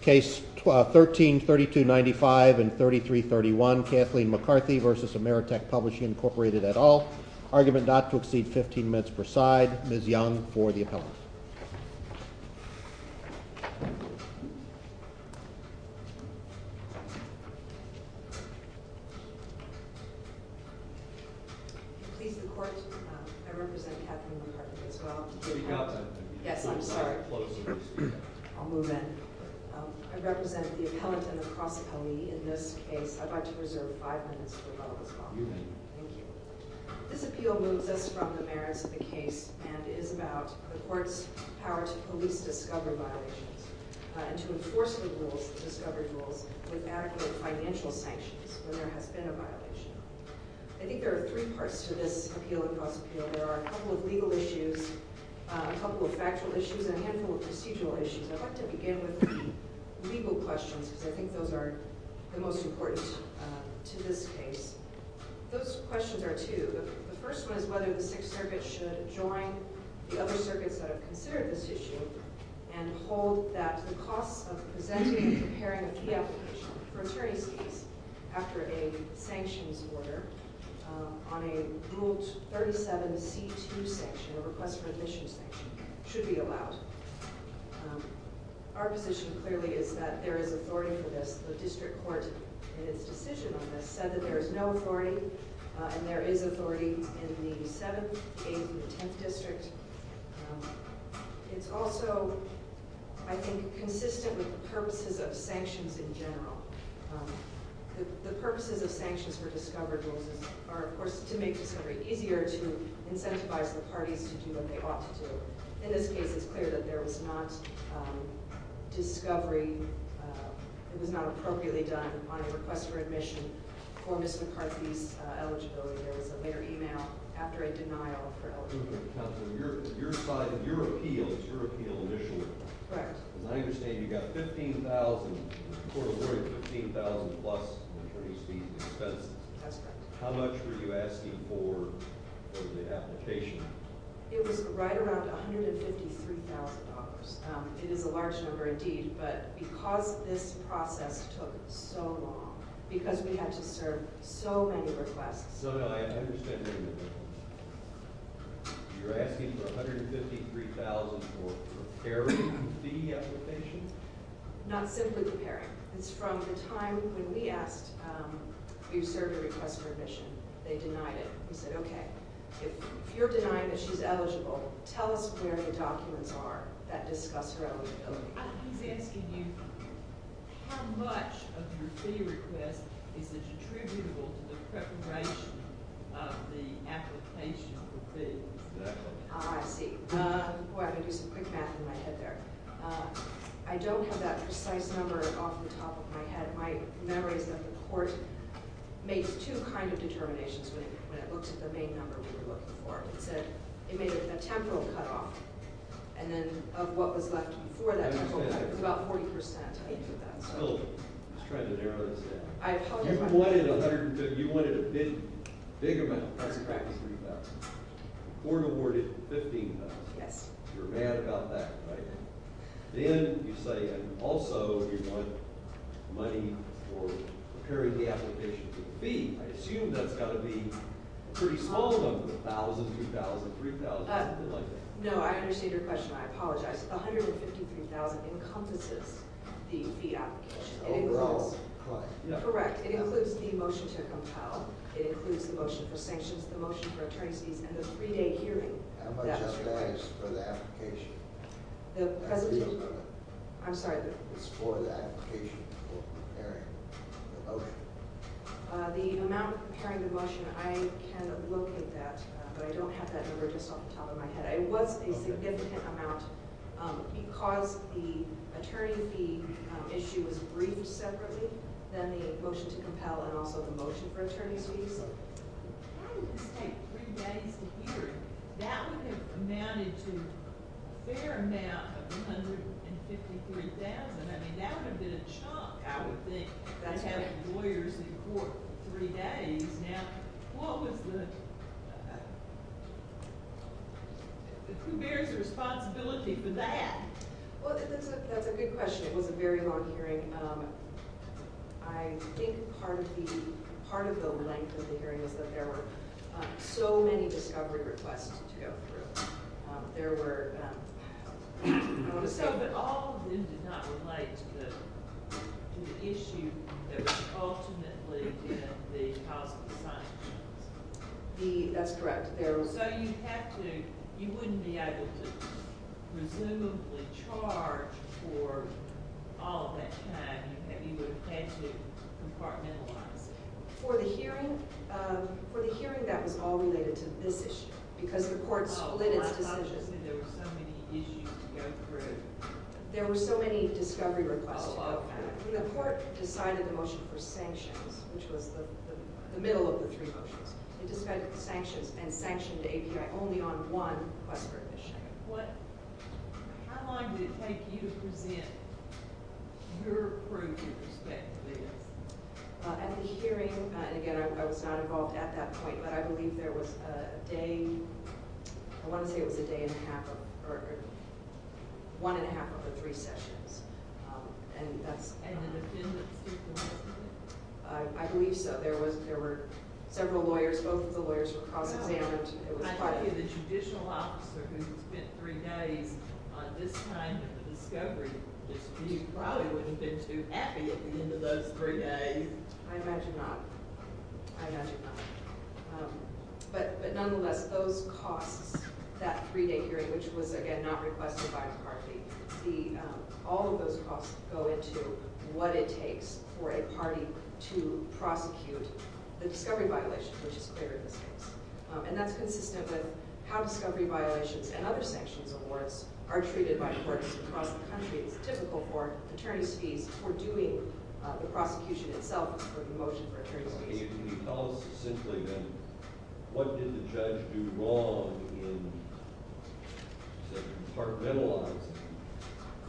Case 13-3295 and 33-31 Kathleen McCarthy v. Ameritech Publishing Inc. et al. Argument not to exceed 15 minutes per side. Ms. Young for the appellate. Please the court. I represent Kathleen McCarthy as well. Yes, I'm sorry. I'll move in. I represent the appellant in the cross appellee in this case. I'd like to reserve five minutes for the public as well. You may. Thank you. This appeal moves us from the merits of the case and is about the court's power to police discovery violations and to enforce the rules, the discovery rules, with adequate financial sanctions when there has been a violation. I think there are three parts to this appeal of the cross appeal. There are a couple of legal issues, a couple of factual issues, and a handful of procedural issues. I'd like to begin with the legal questions because I think those are the most important to this case. Those questions are two. The first one is whether the Sixth Circuit should join the other circuits that have considered this issue and hold that the costs of presenting and C2 sanction, a request for admission sanction, should be allowed. Our position clearly is that there is authority for this. The district court in its decision on this said that there is no authority and there is authority in the 7th, 8th, and 10th district. It's also, I think, consistent with the purposes of sanctions in general. The purposes of sanctions for discovery rules are, of course, to make discovery easier, to incentivize the parties to do what they ought to do. In this case, it's clear that there was not discovery, it was not appropriately done on a request for admission for Ms. McCarthy's eligibility. There was a later email after a denial for eligibility. Your appeal is your appeal initially. Correct. As I understand, you got $15,000, the court awarded $15,000 plus in attorney's fees and expenses. That's correct. How much were you asking for in the application? It was right around $153,000. It is a large number indeed, but because this process took so long, because we had to serve so many requests. So I understand that you're asking for $153,000 for preparing the application? Not simply preparing. It's from the time when we asked you to serve a request for admission. They denied it. We said, okay, if you're denying that she's eligible, tell us where the documents are that discuss her eligibility. He's asking you how much of your fee request is attributable to the preparation of the application for fee? Ah, I see. Boy, I'm going to do some quick math in my head there. I don't have that precise number off the top of my head. My memory is that the court made two kinds of determinations when it looked at the main number we were looking for. It said it made a temporal cutoff and then of what was left before that temporal cutoff, it was about 40%. I was trying to narrow this down. You wanted a big amount. That's correct. $3,000. The court awarded $15,000. Yes. You're mad about that, right? Then you say, and also you want money for preparing the application for fee. I assume that's got to be a pretty small number, $1,000, $2,000, $3,000, something like that. No, I understand your question. I apologize. $153,000 encompasses the fee application. Overall claim. Correct. It includes the motion to compel. It includes the motion for sanctions, the motion for attorney's fees, and the three-day hearing. How much of that is for the application? The presentation? I'm sorry. It's for the application for preparing the motion. The amount for preparing the motion, I can locate that, but I don't have that number just off the top of my head. It was a significant amount because the attorney fee issue was briefed separately, then the motion to compel and also the motion for attorney's fees. How did this take three days to hear? That would have amounted to a fair amount of $153,000. That would have been a chunk, I would think, to have lawyers in court for three days. Who bears the responsibility for that? That's a good question. It was a very long hearing. I think part of the length of the hearing was that there were so many discovery requests to go through. But all of them did not relate to the issue that was ultimately the cause of the sanctions? That's correct. So you wouldn't be able to presumably charge for all of that time that you would have had to compartmentalize? For the hearing, that was all related to this issue because the court split its decisions. I thought you said there were so many issues to go through. There were so many discovery requests to go through. The court decided the motion for sanctions, which was the middle of the three motions. It decided the sanctions and sanctioned the API only on one request for admission. How long did it take you to present your proof, respectively? At the hearing, again, I was not involved at that point, but I believe there was a day, I want to say it was a day and a half, or one and a half of the three sessions. And in the field that the student was in? I believe so. There were several lawyers. Both of the lawyers were cross-examined. I thought you were the judicial officer who spent three days on this kind of discovery. You probably wouldn't have been too happy at the end of those three days. I imagine not. I imagine not. But nonetheless, those costs, that three-day hearing, which was, again, not requested by the party, all of those costs go into what it takes for a party to prosecute the discovery violation, which is clear of mistakes. And that's consistent with how discovery violations and other sanctions awards are treated by courts across the country. It's typical for attorney's fees for doing the prosecution itself is for the motion for attorney's fees. Can you tell us simply then, what did the judge do wrong in, say, compartmentalizing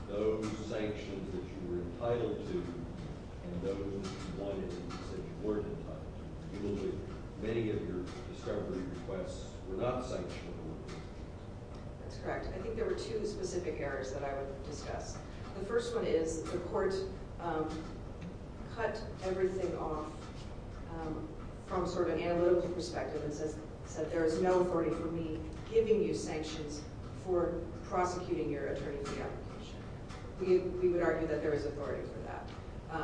those sanctions that you were entitled to and those ones that you weren't entitled to? Many of your discovery requests were not sanctioned. That's correct. I think there were two specific errors that I would discuss. The first one is the court cut everything off from sort of an analytical perspective and said, there is no authority for me giving you sanctions for prosecuting your attorney fee application. We would argue that there is authority for that.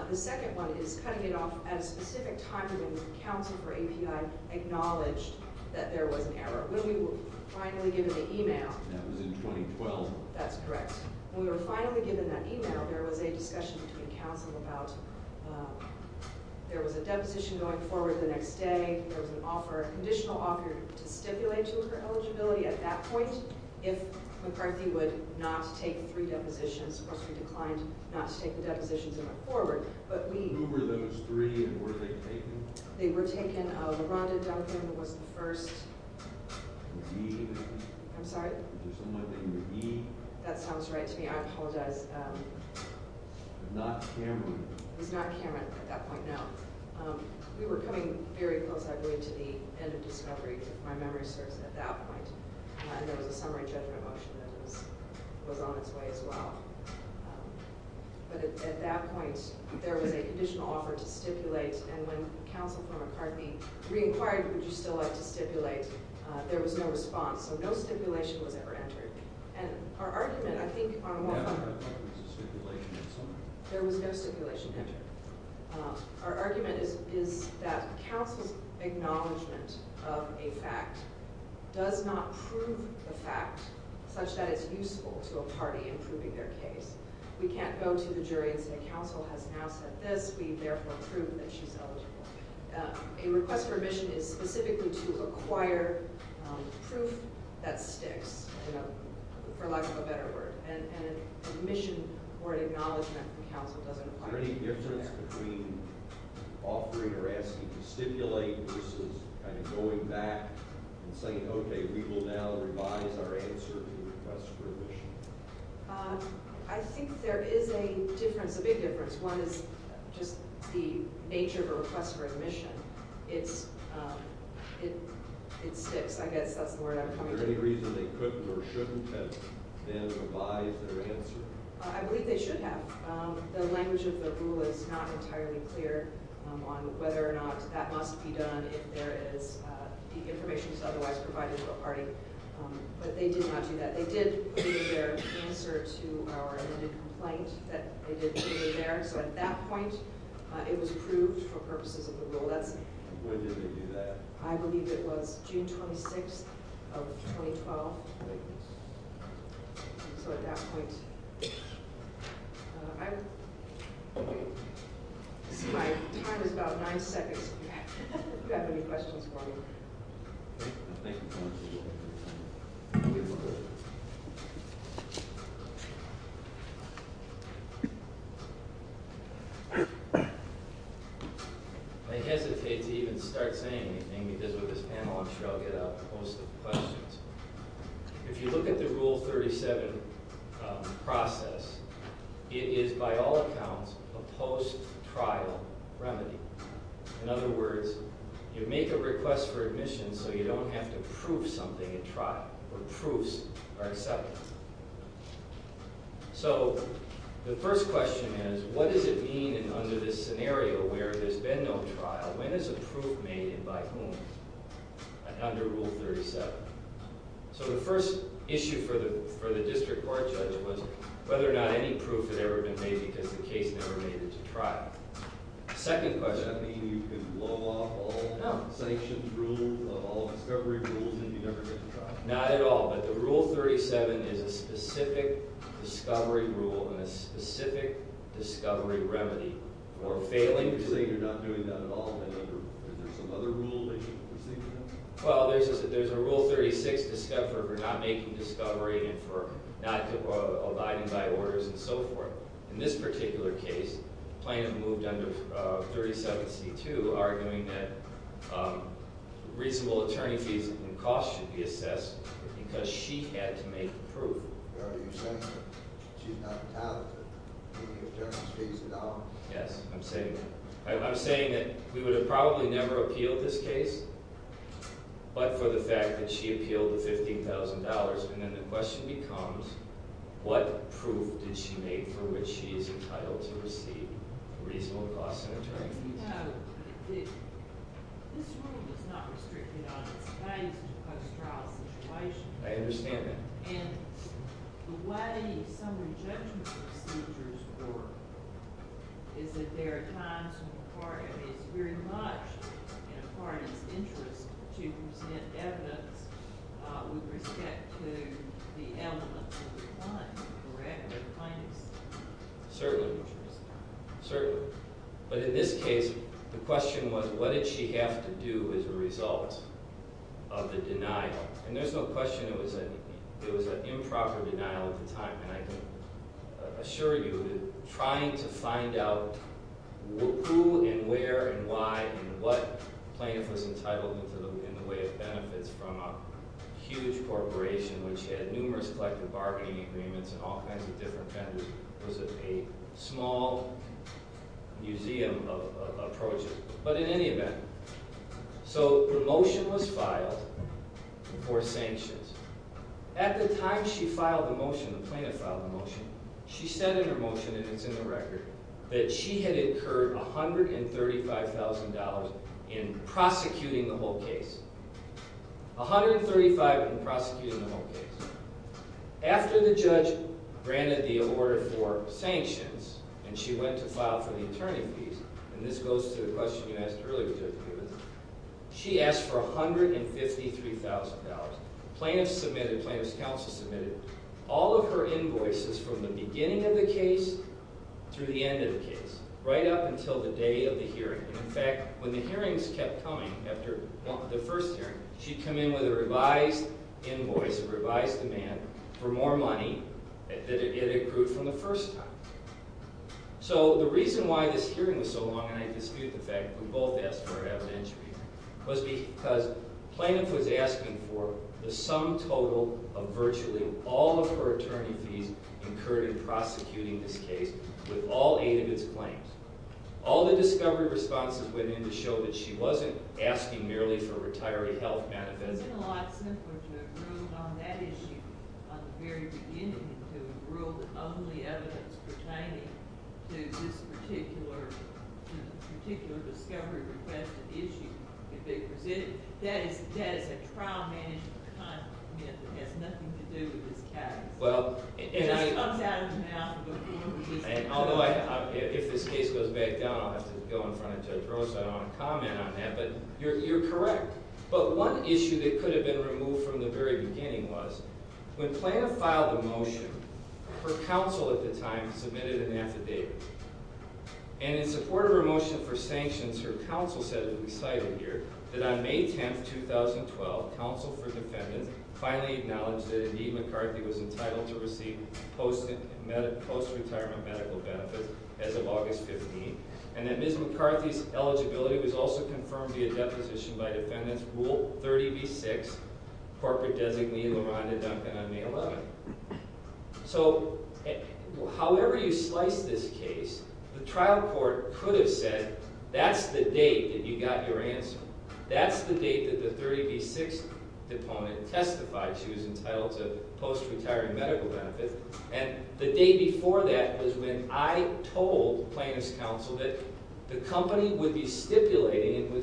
The second one is cutting it off at a specific time when the Council for API acknowledged that there was an error. When we were finally given the e-mail— That was in 2012. That's correct. When we were finally given that e-mail, there was a discussion between Council about there was a deposition going forward the next day. There was an offer, a conditional offer, to stipulate to her eligibility at that point. McCarthy would not take three depositions. Of course, we declined not to take the depositions and went forward. But we— Who were those three, and were they taken? They were taken. Rhonda Duncan was the first. Was he? I'm sorry? Was there someone like that in the meeting? That sounds right to me. I apologize. Not Cameron? It was not Cameron at that point, no. We were coming very close, I believe, to the end of discovery, if my memory serves, at that point. And there was a summary judgment motion that was on its way as well. But at that point, there was a conditional offer to stipulate. And when Council for McCarthy re-inquired, would you still like to stipulate, there was no response. So no stipulation was ever entered. And our argument, I think, on— I thought there was a stipulation in summary. There was no stipulation entered. Our argument is that Council's acknowledgment of a fact does not prove the fact such that it's useful to a party in proving their case. We can't go to the jury and say, Council has now said this. We therefore prove that she's eligible. A request for admission is specifically to acquire proof that sticks, for lack of a better word. And an admission or an acknowledgment from Council doesn't apply. Is there any difference between offering or asking to stipulate versus kind of going back and saying, okay, we will now revise our answer to the request for admission? I think there is a difference, a big difference. One is just the nature of a request for admission. It sticks. I guess that's the word I'm coming from. Is there any reason they couldn't or shouldn't have then revised their answer? I believe they should have. The language of the rule is not entirely clear on whether or not that must be done if there is the information that's otherwise provided to a party. But they did not do that. They did prove their answer to our amended complaint that they did put it there. So at that point, it was approved for purposes of the rule. When did they do that? I believe it was June 26th of 2012. So at that point, I see my time is about nine seconds. Do you have any questions for me? I hesitate to even start saying anything because with this panel, I'm sure I'll get a host of questions. If you look at the Rule 37 process, it is by all accounts a post-trial remedy. In other words, you make a request for admission so you don't have to prove something at trial or proofs are accepted. So the first question is, what does it mean under this scenario where there's been no trial? When is a proof made and by whom under Rule 37? So the first issue for the district court judge was whether or not any proof had ever been made because the case never made it to trial. Second question. Does that mean you can blow off all the sanctions rules of all the discovery rules and you never get to trial? Not at all, but the Rule 37 is a specific discovery rule and a specific discovery remedy for failing to… Is there some other rule that you can see to that? Well, there's a Rule 36 for not making discovery and for not abiding by orders and so forth. In this particular case, plaintiff moved under 37C2, arguing that reasonable attorney fees and costs should be assessed because she had to make the proof. Are you saying that she's not talented? I mean, if justice pays the dollar? Yes, I'm saying that. I'm saying that we would have probably never appealed this case, but for the fact that she appealed the $15,000. And then the question becomes, what proof did she make for which she is entitled to receive reasonable costs and attorney fees? You know, this rule does not restrict it on its values to post-trial situations. I understand that. And the way summary judgment procedures work is that there are times when an attorney is very much in an attorney's interest to present evidence with respect to the elements of the crime, correct? Certainly. Certainly. But in this case, the question was, what did she have to do as a result of the denial? And there's no question it was an improper denial at the time. And I can assure you that trying to find out who and where and why and what plaintiff was entitled in the way of benefits from a huge corporation, which had numerous collective bargaining agreements and all kinds of different vendors, was a small museum of approaches. But in any event, so the motion was filed for sanctions. At the time she filed the motion, the plaintiff filed the motion, she said in her motion, and it's in the record, that she had incurred $135,000 in prosecuting the whole case. $135,000 in prosecuting the whole case. After the judge granted the order for sanctions, and she went to file for the attorney fees, and this goes to the question you asked earlier, Judge Newman, she asked for $153,000. Plaintiff submitted, plaintiff's counsel submitted all of her invoices from the beginning of the case through the end of the case, right up until the day of the hearing. In fact, when the hearings kept coming, after the first hearing, she'd come in with a revised invoice, a revised demand for more money than it had accrued from the first time. So the reason why this hearing was so long, and I dispute the fact that we both asked for her evidentiary, was because plaintiff was asking for the sum total of virtually all of her attorney fees incurred in prosecuting this case with all eight of its claims. All the discovery responses went in to show that she wasn't asking merely for retiree health benefits. It would have been a lot simpler to have ruled on that issue at the very beginning, and to have ruled that only evidence pertaining to this particular discovery request issue could be presented. That is a trial management comment that has nothing to do with this case. Although if this case goes back down, I'll have to go in front of Judge Rose, I don't want to comment on that, but you're correct. But one issue that could have been removed from the very beginning was, when plaintiff filed the motion, her counsel at the time submitted an affidavit. And in support of her motion for sanctions, her counsel said, as we cited here, that on May 10, 2012, counsel for defendants finally acknowledged that Indeed McCarthy was entitled to receive post-retirement medical benefits as of August 15, and that Ms. McCarthy's eligibility was also confirmed via deposition by defendants Rule 30b-6, corporate designee LaRhonda Duncan on May 11. So, however you slice this case, the trial court could have said, that's the date that you got your answer. That's the date that the 30b-6 deponent testified she was entitled to post-retiring medical benefits, and the day before that was when I told plaintiff's counsel that the company would be stipulating,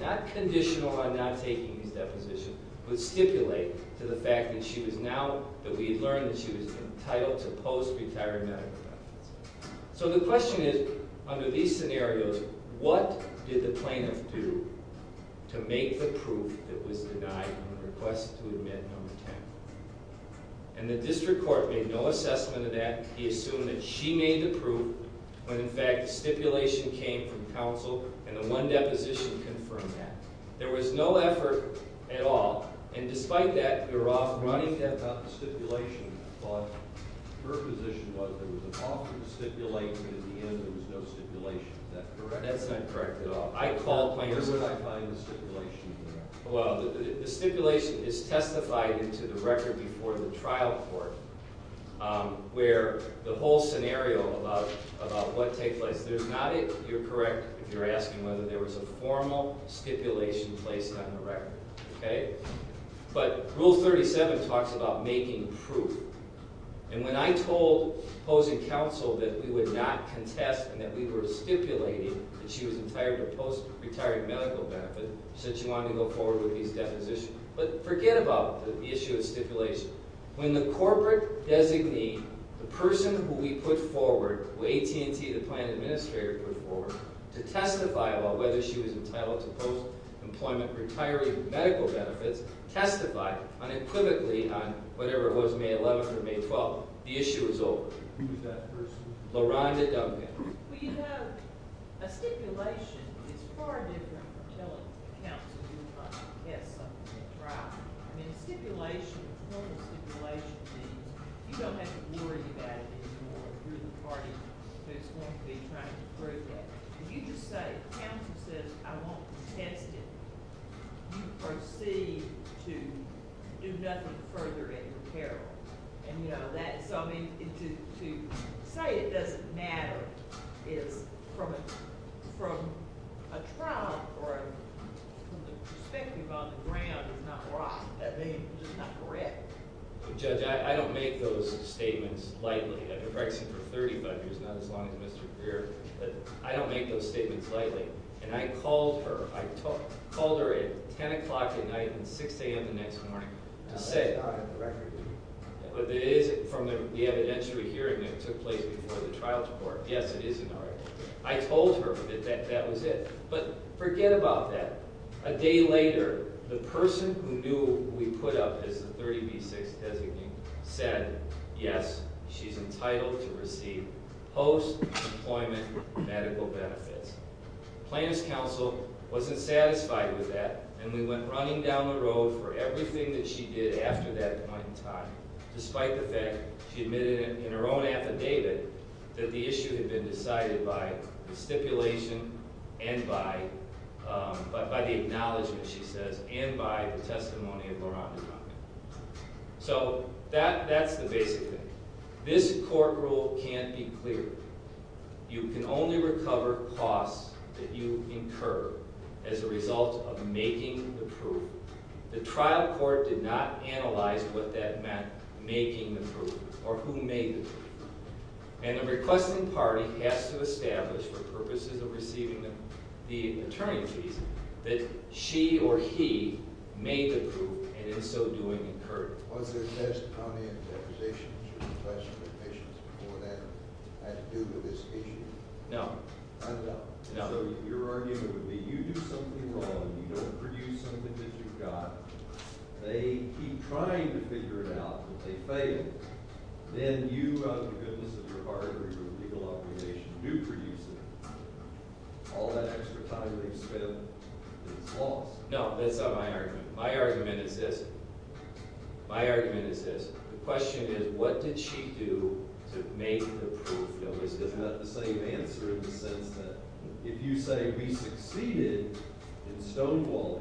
not conditional on not taking this deposition, but stipulate to the fact that she was now, that we had learned that she was entitled to post-retirement medical benefits. So the question is, under these scenarios, what did the plaintiff do to make the proof that was denied on the request to admit number 10? And the district court made no assessment of that. He assumed that she made the proof when, in fact, stipulation came from counsel, and the one deposition confirmed that. There was no effort at all, and despite that, you're offering… The plaintiff had not stipulation, but her position was there was an option to stipulate, but at the end there was no stipulation. Is that correct? That's not correct at all. I called plaintiffs… Where would I find the stipulation? Well, the stipulation is testified into the record before the trial court, where the whole scenario about what takes place. If there's not it, you're correct if you're asking whether there was a formal stipulation placed on the record, okay? But Rule 37 talks about making proof, and when I told opposing counsel that we would not contest and that we were stipulating that she was entitled to post-retiring medical benefits, she said she wanted to go forward with these depositions. But forget about the issue of stipulation. When the corporate designee, the person who we put forward, who AT&T, the Plaintiff Administrator put forward, to testify about whether she was entitled to post-employment retiring medical benefits, testified unequivocally on whatever it was, May 11 or May 12, the issue was over. Who was that person? LaRonda Duncan. Well, you know, a stipulation is far different from telling counsel you want to contest something at trial. I mean, a formal stipulation means you don't have to worry about it anymore. You're the party who's going to be trying to prove that. If you just say, the counsel says, I won't contest it, you proceed to do nothing further at your peril. So, I mean, to say it doesn't matter is, from a trial perspective on the ground, is not right. I mean, it's just not correct. Judge, I don't make those statements lightly. I've been working for 35 years, not as long as Mr. Greer. I don't make those statements lightly. And I called her. I called her at 10 o'clock at night and 6 a.m. the next morning to say— But it is from the evidentiary hearing that took place before the trials court. Yes, it is not right. I told her that that was it. But forget about that. A day later, the person who knew who we put up as the 30B6 designee said, yes, she's entitled to receive post-employment medical benefits. Plaintiff's counsel wasn't satisfied with that, and we went running down the road for everything that she did after that point in time, despite the fact she admitted in her own affidavit that the issue had been decided by the stipulation and by— by the acknowledgment, she says, and by the testimony of Loranda Conklin. So, that's the basic thing. This court rule can't be cleared. You can only recover costs that you incur as a result of making the proof. The trial court did not analyze what that meant, making the proof, or who made the proof. And the requesting party has to establish, for purposes of receiving the attorney's fees, that she or he made the proof, and in so doing, incurred it. Was there testimony and accusations or professional admissions before that had to do with this issue? No. No? No. So, your argument would be you do something wrong, you don't produce something that you've got, they keep trying to figure it out, but they fail. Then you, out of the goodness of your heart, or your legal organization, do produce it. All that extra time they've spent is lost. No, that's not my argument. My argument is this. My argument is this. The question is, what did she do to make the proof? Now, this is not the same answer in the sense that if you say, we succeeded in stonewalling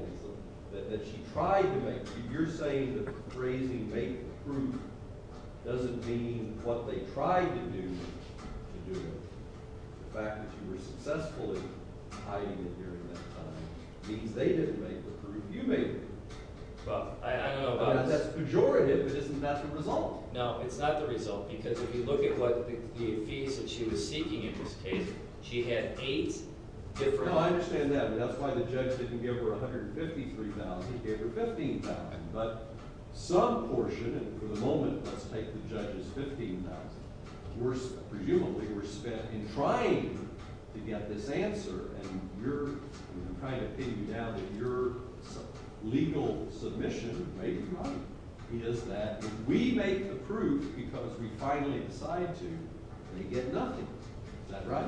them, that she tried to make the proof, you're saying that the phrasing, make the proof, doesn't mean what they tried to do, to do it. The fact that you were successfully hiding it during that time means they didn't make the proof, you made the proof. Well, I don't know about this. That's pejorative, but isn't that the result? No, it's not the result, because if you look at what the fees that she was seeking in this case, she had eight different… The problem is that in trying to get this answer, and I'm kind of pitting you down that your legal submission may be right, is that if we make the proof because we finally decide to, they get nothing. Is that right?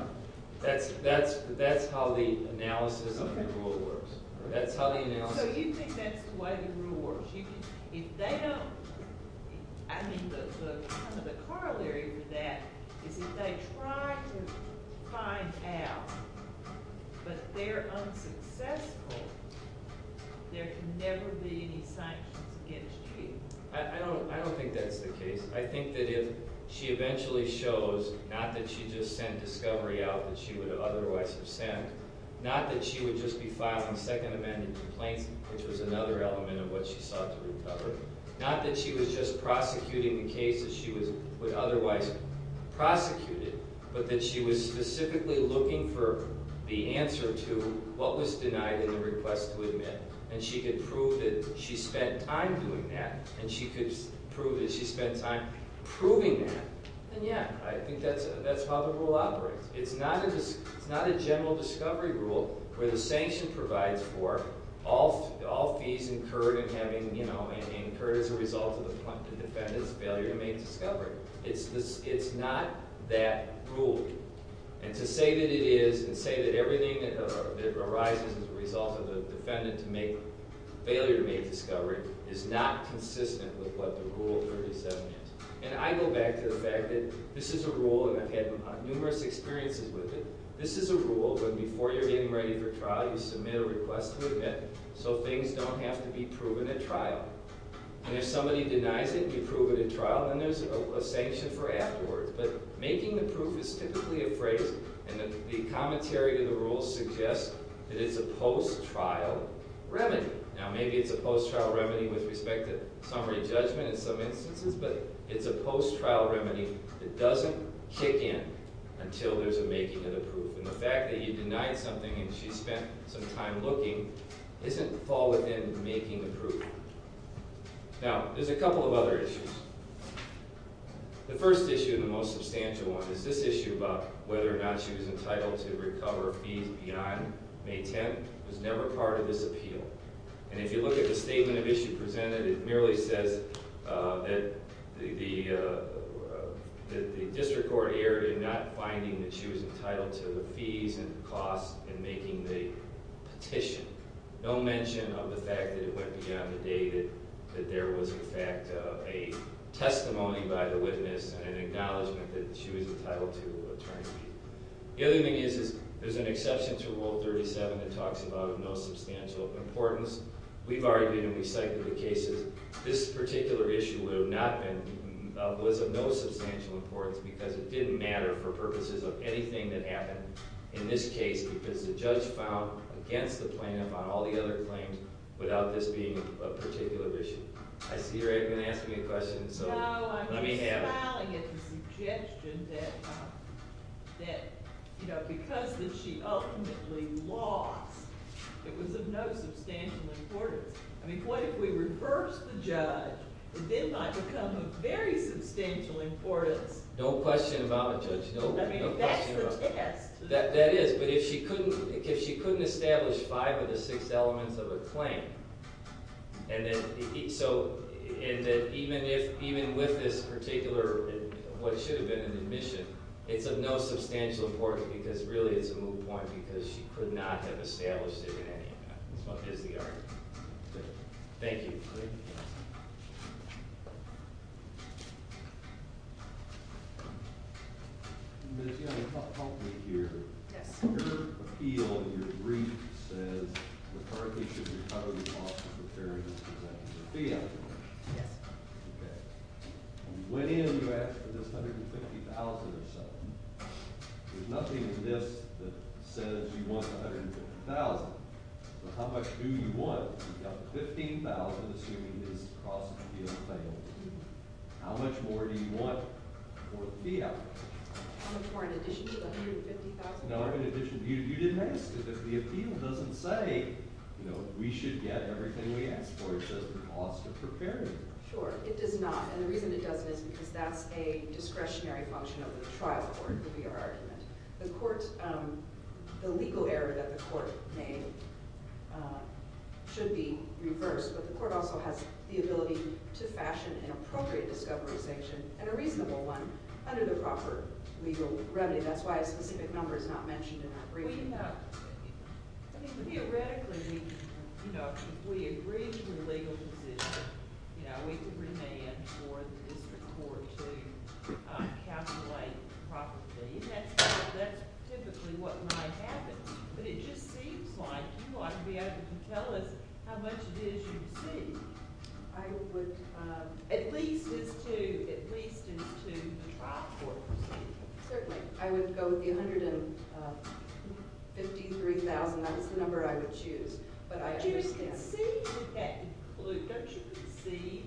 That's how the analysis of the rule works. That's how the analysis… So you think that's the way the rule works? If they don't… I mean, the corollary to that is if they try to find out, but they're unsuccessful, there can never be any sanctions against you. I don't think that's the case. I think that if she eventually shows not that she just sent discovery out that she would have otherwise have sent, not that she would just be filing Second Amendment complaints, which was another element of what she sought to recover, not that she was just prosecuting the case that she would otherwise have prosecuted, but that she was specifically looking for the answer to what was denied in the request to admit, and she could prove that she spent time doing that, and she could prove that she spent time proving that, then yeah, I think that's how the rule operates. It's not a general discovery rule where the sanction provides for all fees incurred as a result of the defendant's failure to make discovery. It's not that rule. And to say that it is and say that everything that arises as a result of the defendant's failure to make discovery is not consistent with what the Rule 37 is. And I go back to the fact that this is a rule, and I've had numerous experiences with it. This is a rule where before you're getting ready for trial, you submit a request to admit, so things don't have to be proven at trial. And if somebody denies it and you prove it at trial, then there's a sanction for afterwards. But making the proof is typically a phrase, and the commentary to the rule suggests that it's a post-trial remedy. Now, maybe it's a post-trial remedy with respect to summary judgment in some instances, but it's a post-trial remedy that doesn't kick in until there's a making of the proof. And the fact that you denied something and she spent some time looking doesn't fall within making the proof. Now, there's a couple of other issues. The first issue, and the most substantial one, is this issue about whether or not she was entitled to recover fees beyond May 10th was never part of this appeal. And if you look at the statement of issue presented, it merely says that the district court erred in not finding that she was entitled to the fees and the costs in making the petition. No mention of the fact that it went beyond the date, that there was, in fact, a testimony by the witness and an acknowledgment that she was entitled to a return fee. The other thing is there's an exception to Rule 37 that talks about of no substantial importance. We've argued and we cited the cases. This particular issue would have not been—was of no substantial importance because it didn't matter for purposes of anything that happened in this case because the judge filed against the plaintiff on all the other claims without this being a particular issue. I see you're going to ask me a question, so let me have it. No, I'm just smiling at the suggestion that, you know, because she ultimately lost, it was of no substantial importance. I mean, what if we reversed the judge? It did not become of very substantial importance. No question about it, Judge. I mean, that's the test. That is, but if she couldn't establish five of the six elements of a claim and that even with this particular what should have been an admission, it's of no substantial importance because really it's a moot point because she could not have established it in any way. That's the argument. Thank you. Thank you, Judge. Ms. Young, you've helped me here. Yes. Under appeal, your brief says McCarthy should recover the costs of repairing his possession of a vehicle. Yes. Okay. When you went in, you asked for this $150,000 or so. There's nothing in this that says you want $150,000. So how much do you want? You've got $15,000, assuming this cross-appeal fails. How much more do you want for the vehicle? How much more in addition to the $150,000? No, in addition. You didn't ask. The appeal doesn't say, you know, we should get everything we ask for. It says the cost of repairing it. Sure. It does not, and the reason it doesn't is because that's a discretionary function of the trial court, would be our argument. The legal error that the court made should be reversed, but the court also has the ability to fashion an appropriate discovery sanction and a reasonable one under the proper legal remedy. That's why a specific number is not mentioned in our brief. I mean, theoretically, you know, if we agree to the legal decision, you know, we could remand for the district court to calculate properly, and that's typically what might happen. But it just seems like you ought to be able to tell us how much it is you receive. I would at least as to the trial court. Certainly. I would go with the $153,000. That is the number I would choose, but I understand. But you can see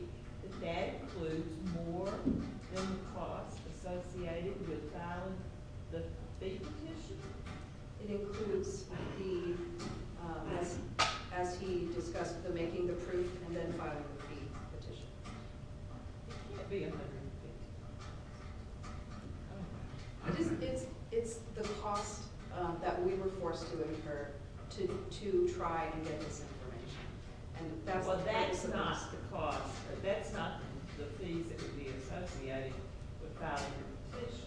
that that includes more than the cost associated with filing the fee petition. It includes the, as he discussed, the making the proof and then filing the fee petition. It can't be $153,000. It's the cost that we were forced to incur to try and get this information. Well, that's not the cost, but that's not the fees that would be associated with filing the petition.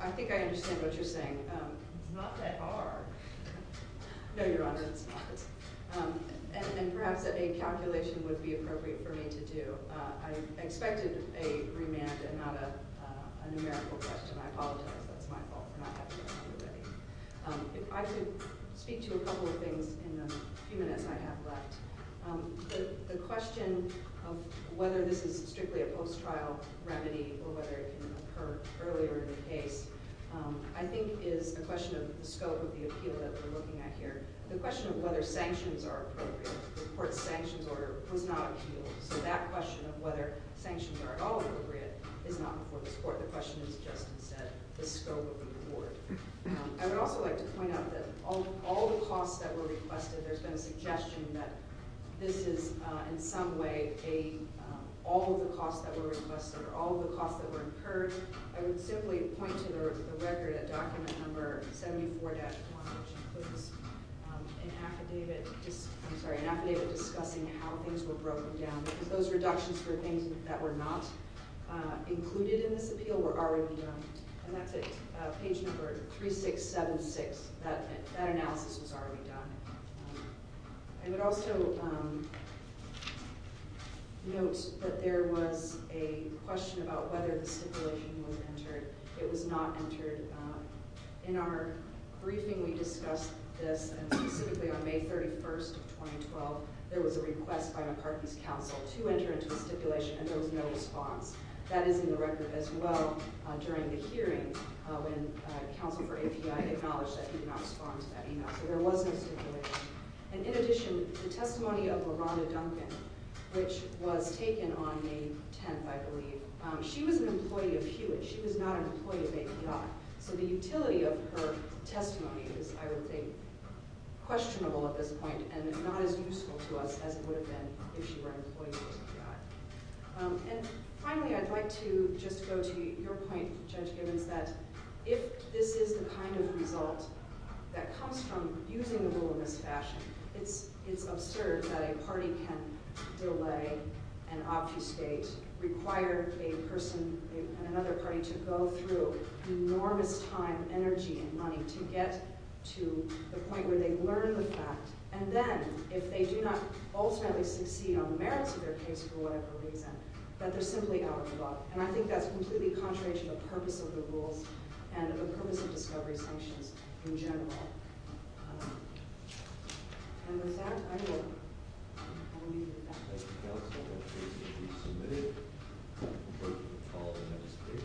I think I understand what you're saying. It's not that hard. No, Your Honor, it's not. And perhaps a calculation would be appropriate for me to do. I expected a remand and not a numerical question. I apologize. That's my fault for not having a remand ready. If I could speak to a couple of things in the few minutes I have left. The question of whether this is strictly a post-trial remedy or whether it can occur earlier in the case I think is a question of the scope of the appeal that we're looking at here. The question of whether sanctions are appropriate. The court's sanctions order was not appealed, so that question of whether sanctions are at all appropriate is not before this court. The question is just, instead, the scope of the reward. I would also like to point out that all the costs that were requested, there's been a suggestion that this is in some way all of the costs that were requested or all of the costs that were incurred. I would simply point to the record at document number 74-1, which includes an affidavit discussing how things were broken down. Those reductions for things that were not included in this appeal were already done. And that's at page number 3676. That analysis was already done. I would also note that there was a question about whether the stipulation was entered. It was not entered. In our briefing, we discussed this, and specifically on May 31st of 2012, there was a request by McCartney's counsel to enter into the stipulation, and there was no response. That is in the record as well during the hearing when counsel for API acknowledged that he did not respond to that email. So there was no stipulation. And in addition, the testimony of LaRonda Duncan, which was taken on May 10th, I believe, she was an employee of Hewitt. She was not an employee of API. So the utility of her testimony is, I would think, questionable at this point and not as useful to us as it would have been if she were an employee of API. And finally, I'd like to just go to your point, Judge Gibbons, that if this is the kind of result that comes from using the rule in this fashion, it's absurd that a party can delay and obfuscate, require a person and another party to go through enormous time, energy, and money to get to the point where they learn the fact. And then, if they do not ultimately succeed on the merits of their case for whatever reason, that they're simply out of luck. And I think that's completely contrary to the purpose of the rules and the purpose of discovery sanctions in general. And with that, I will leave it at that.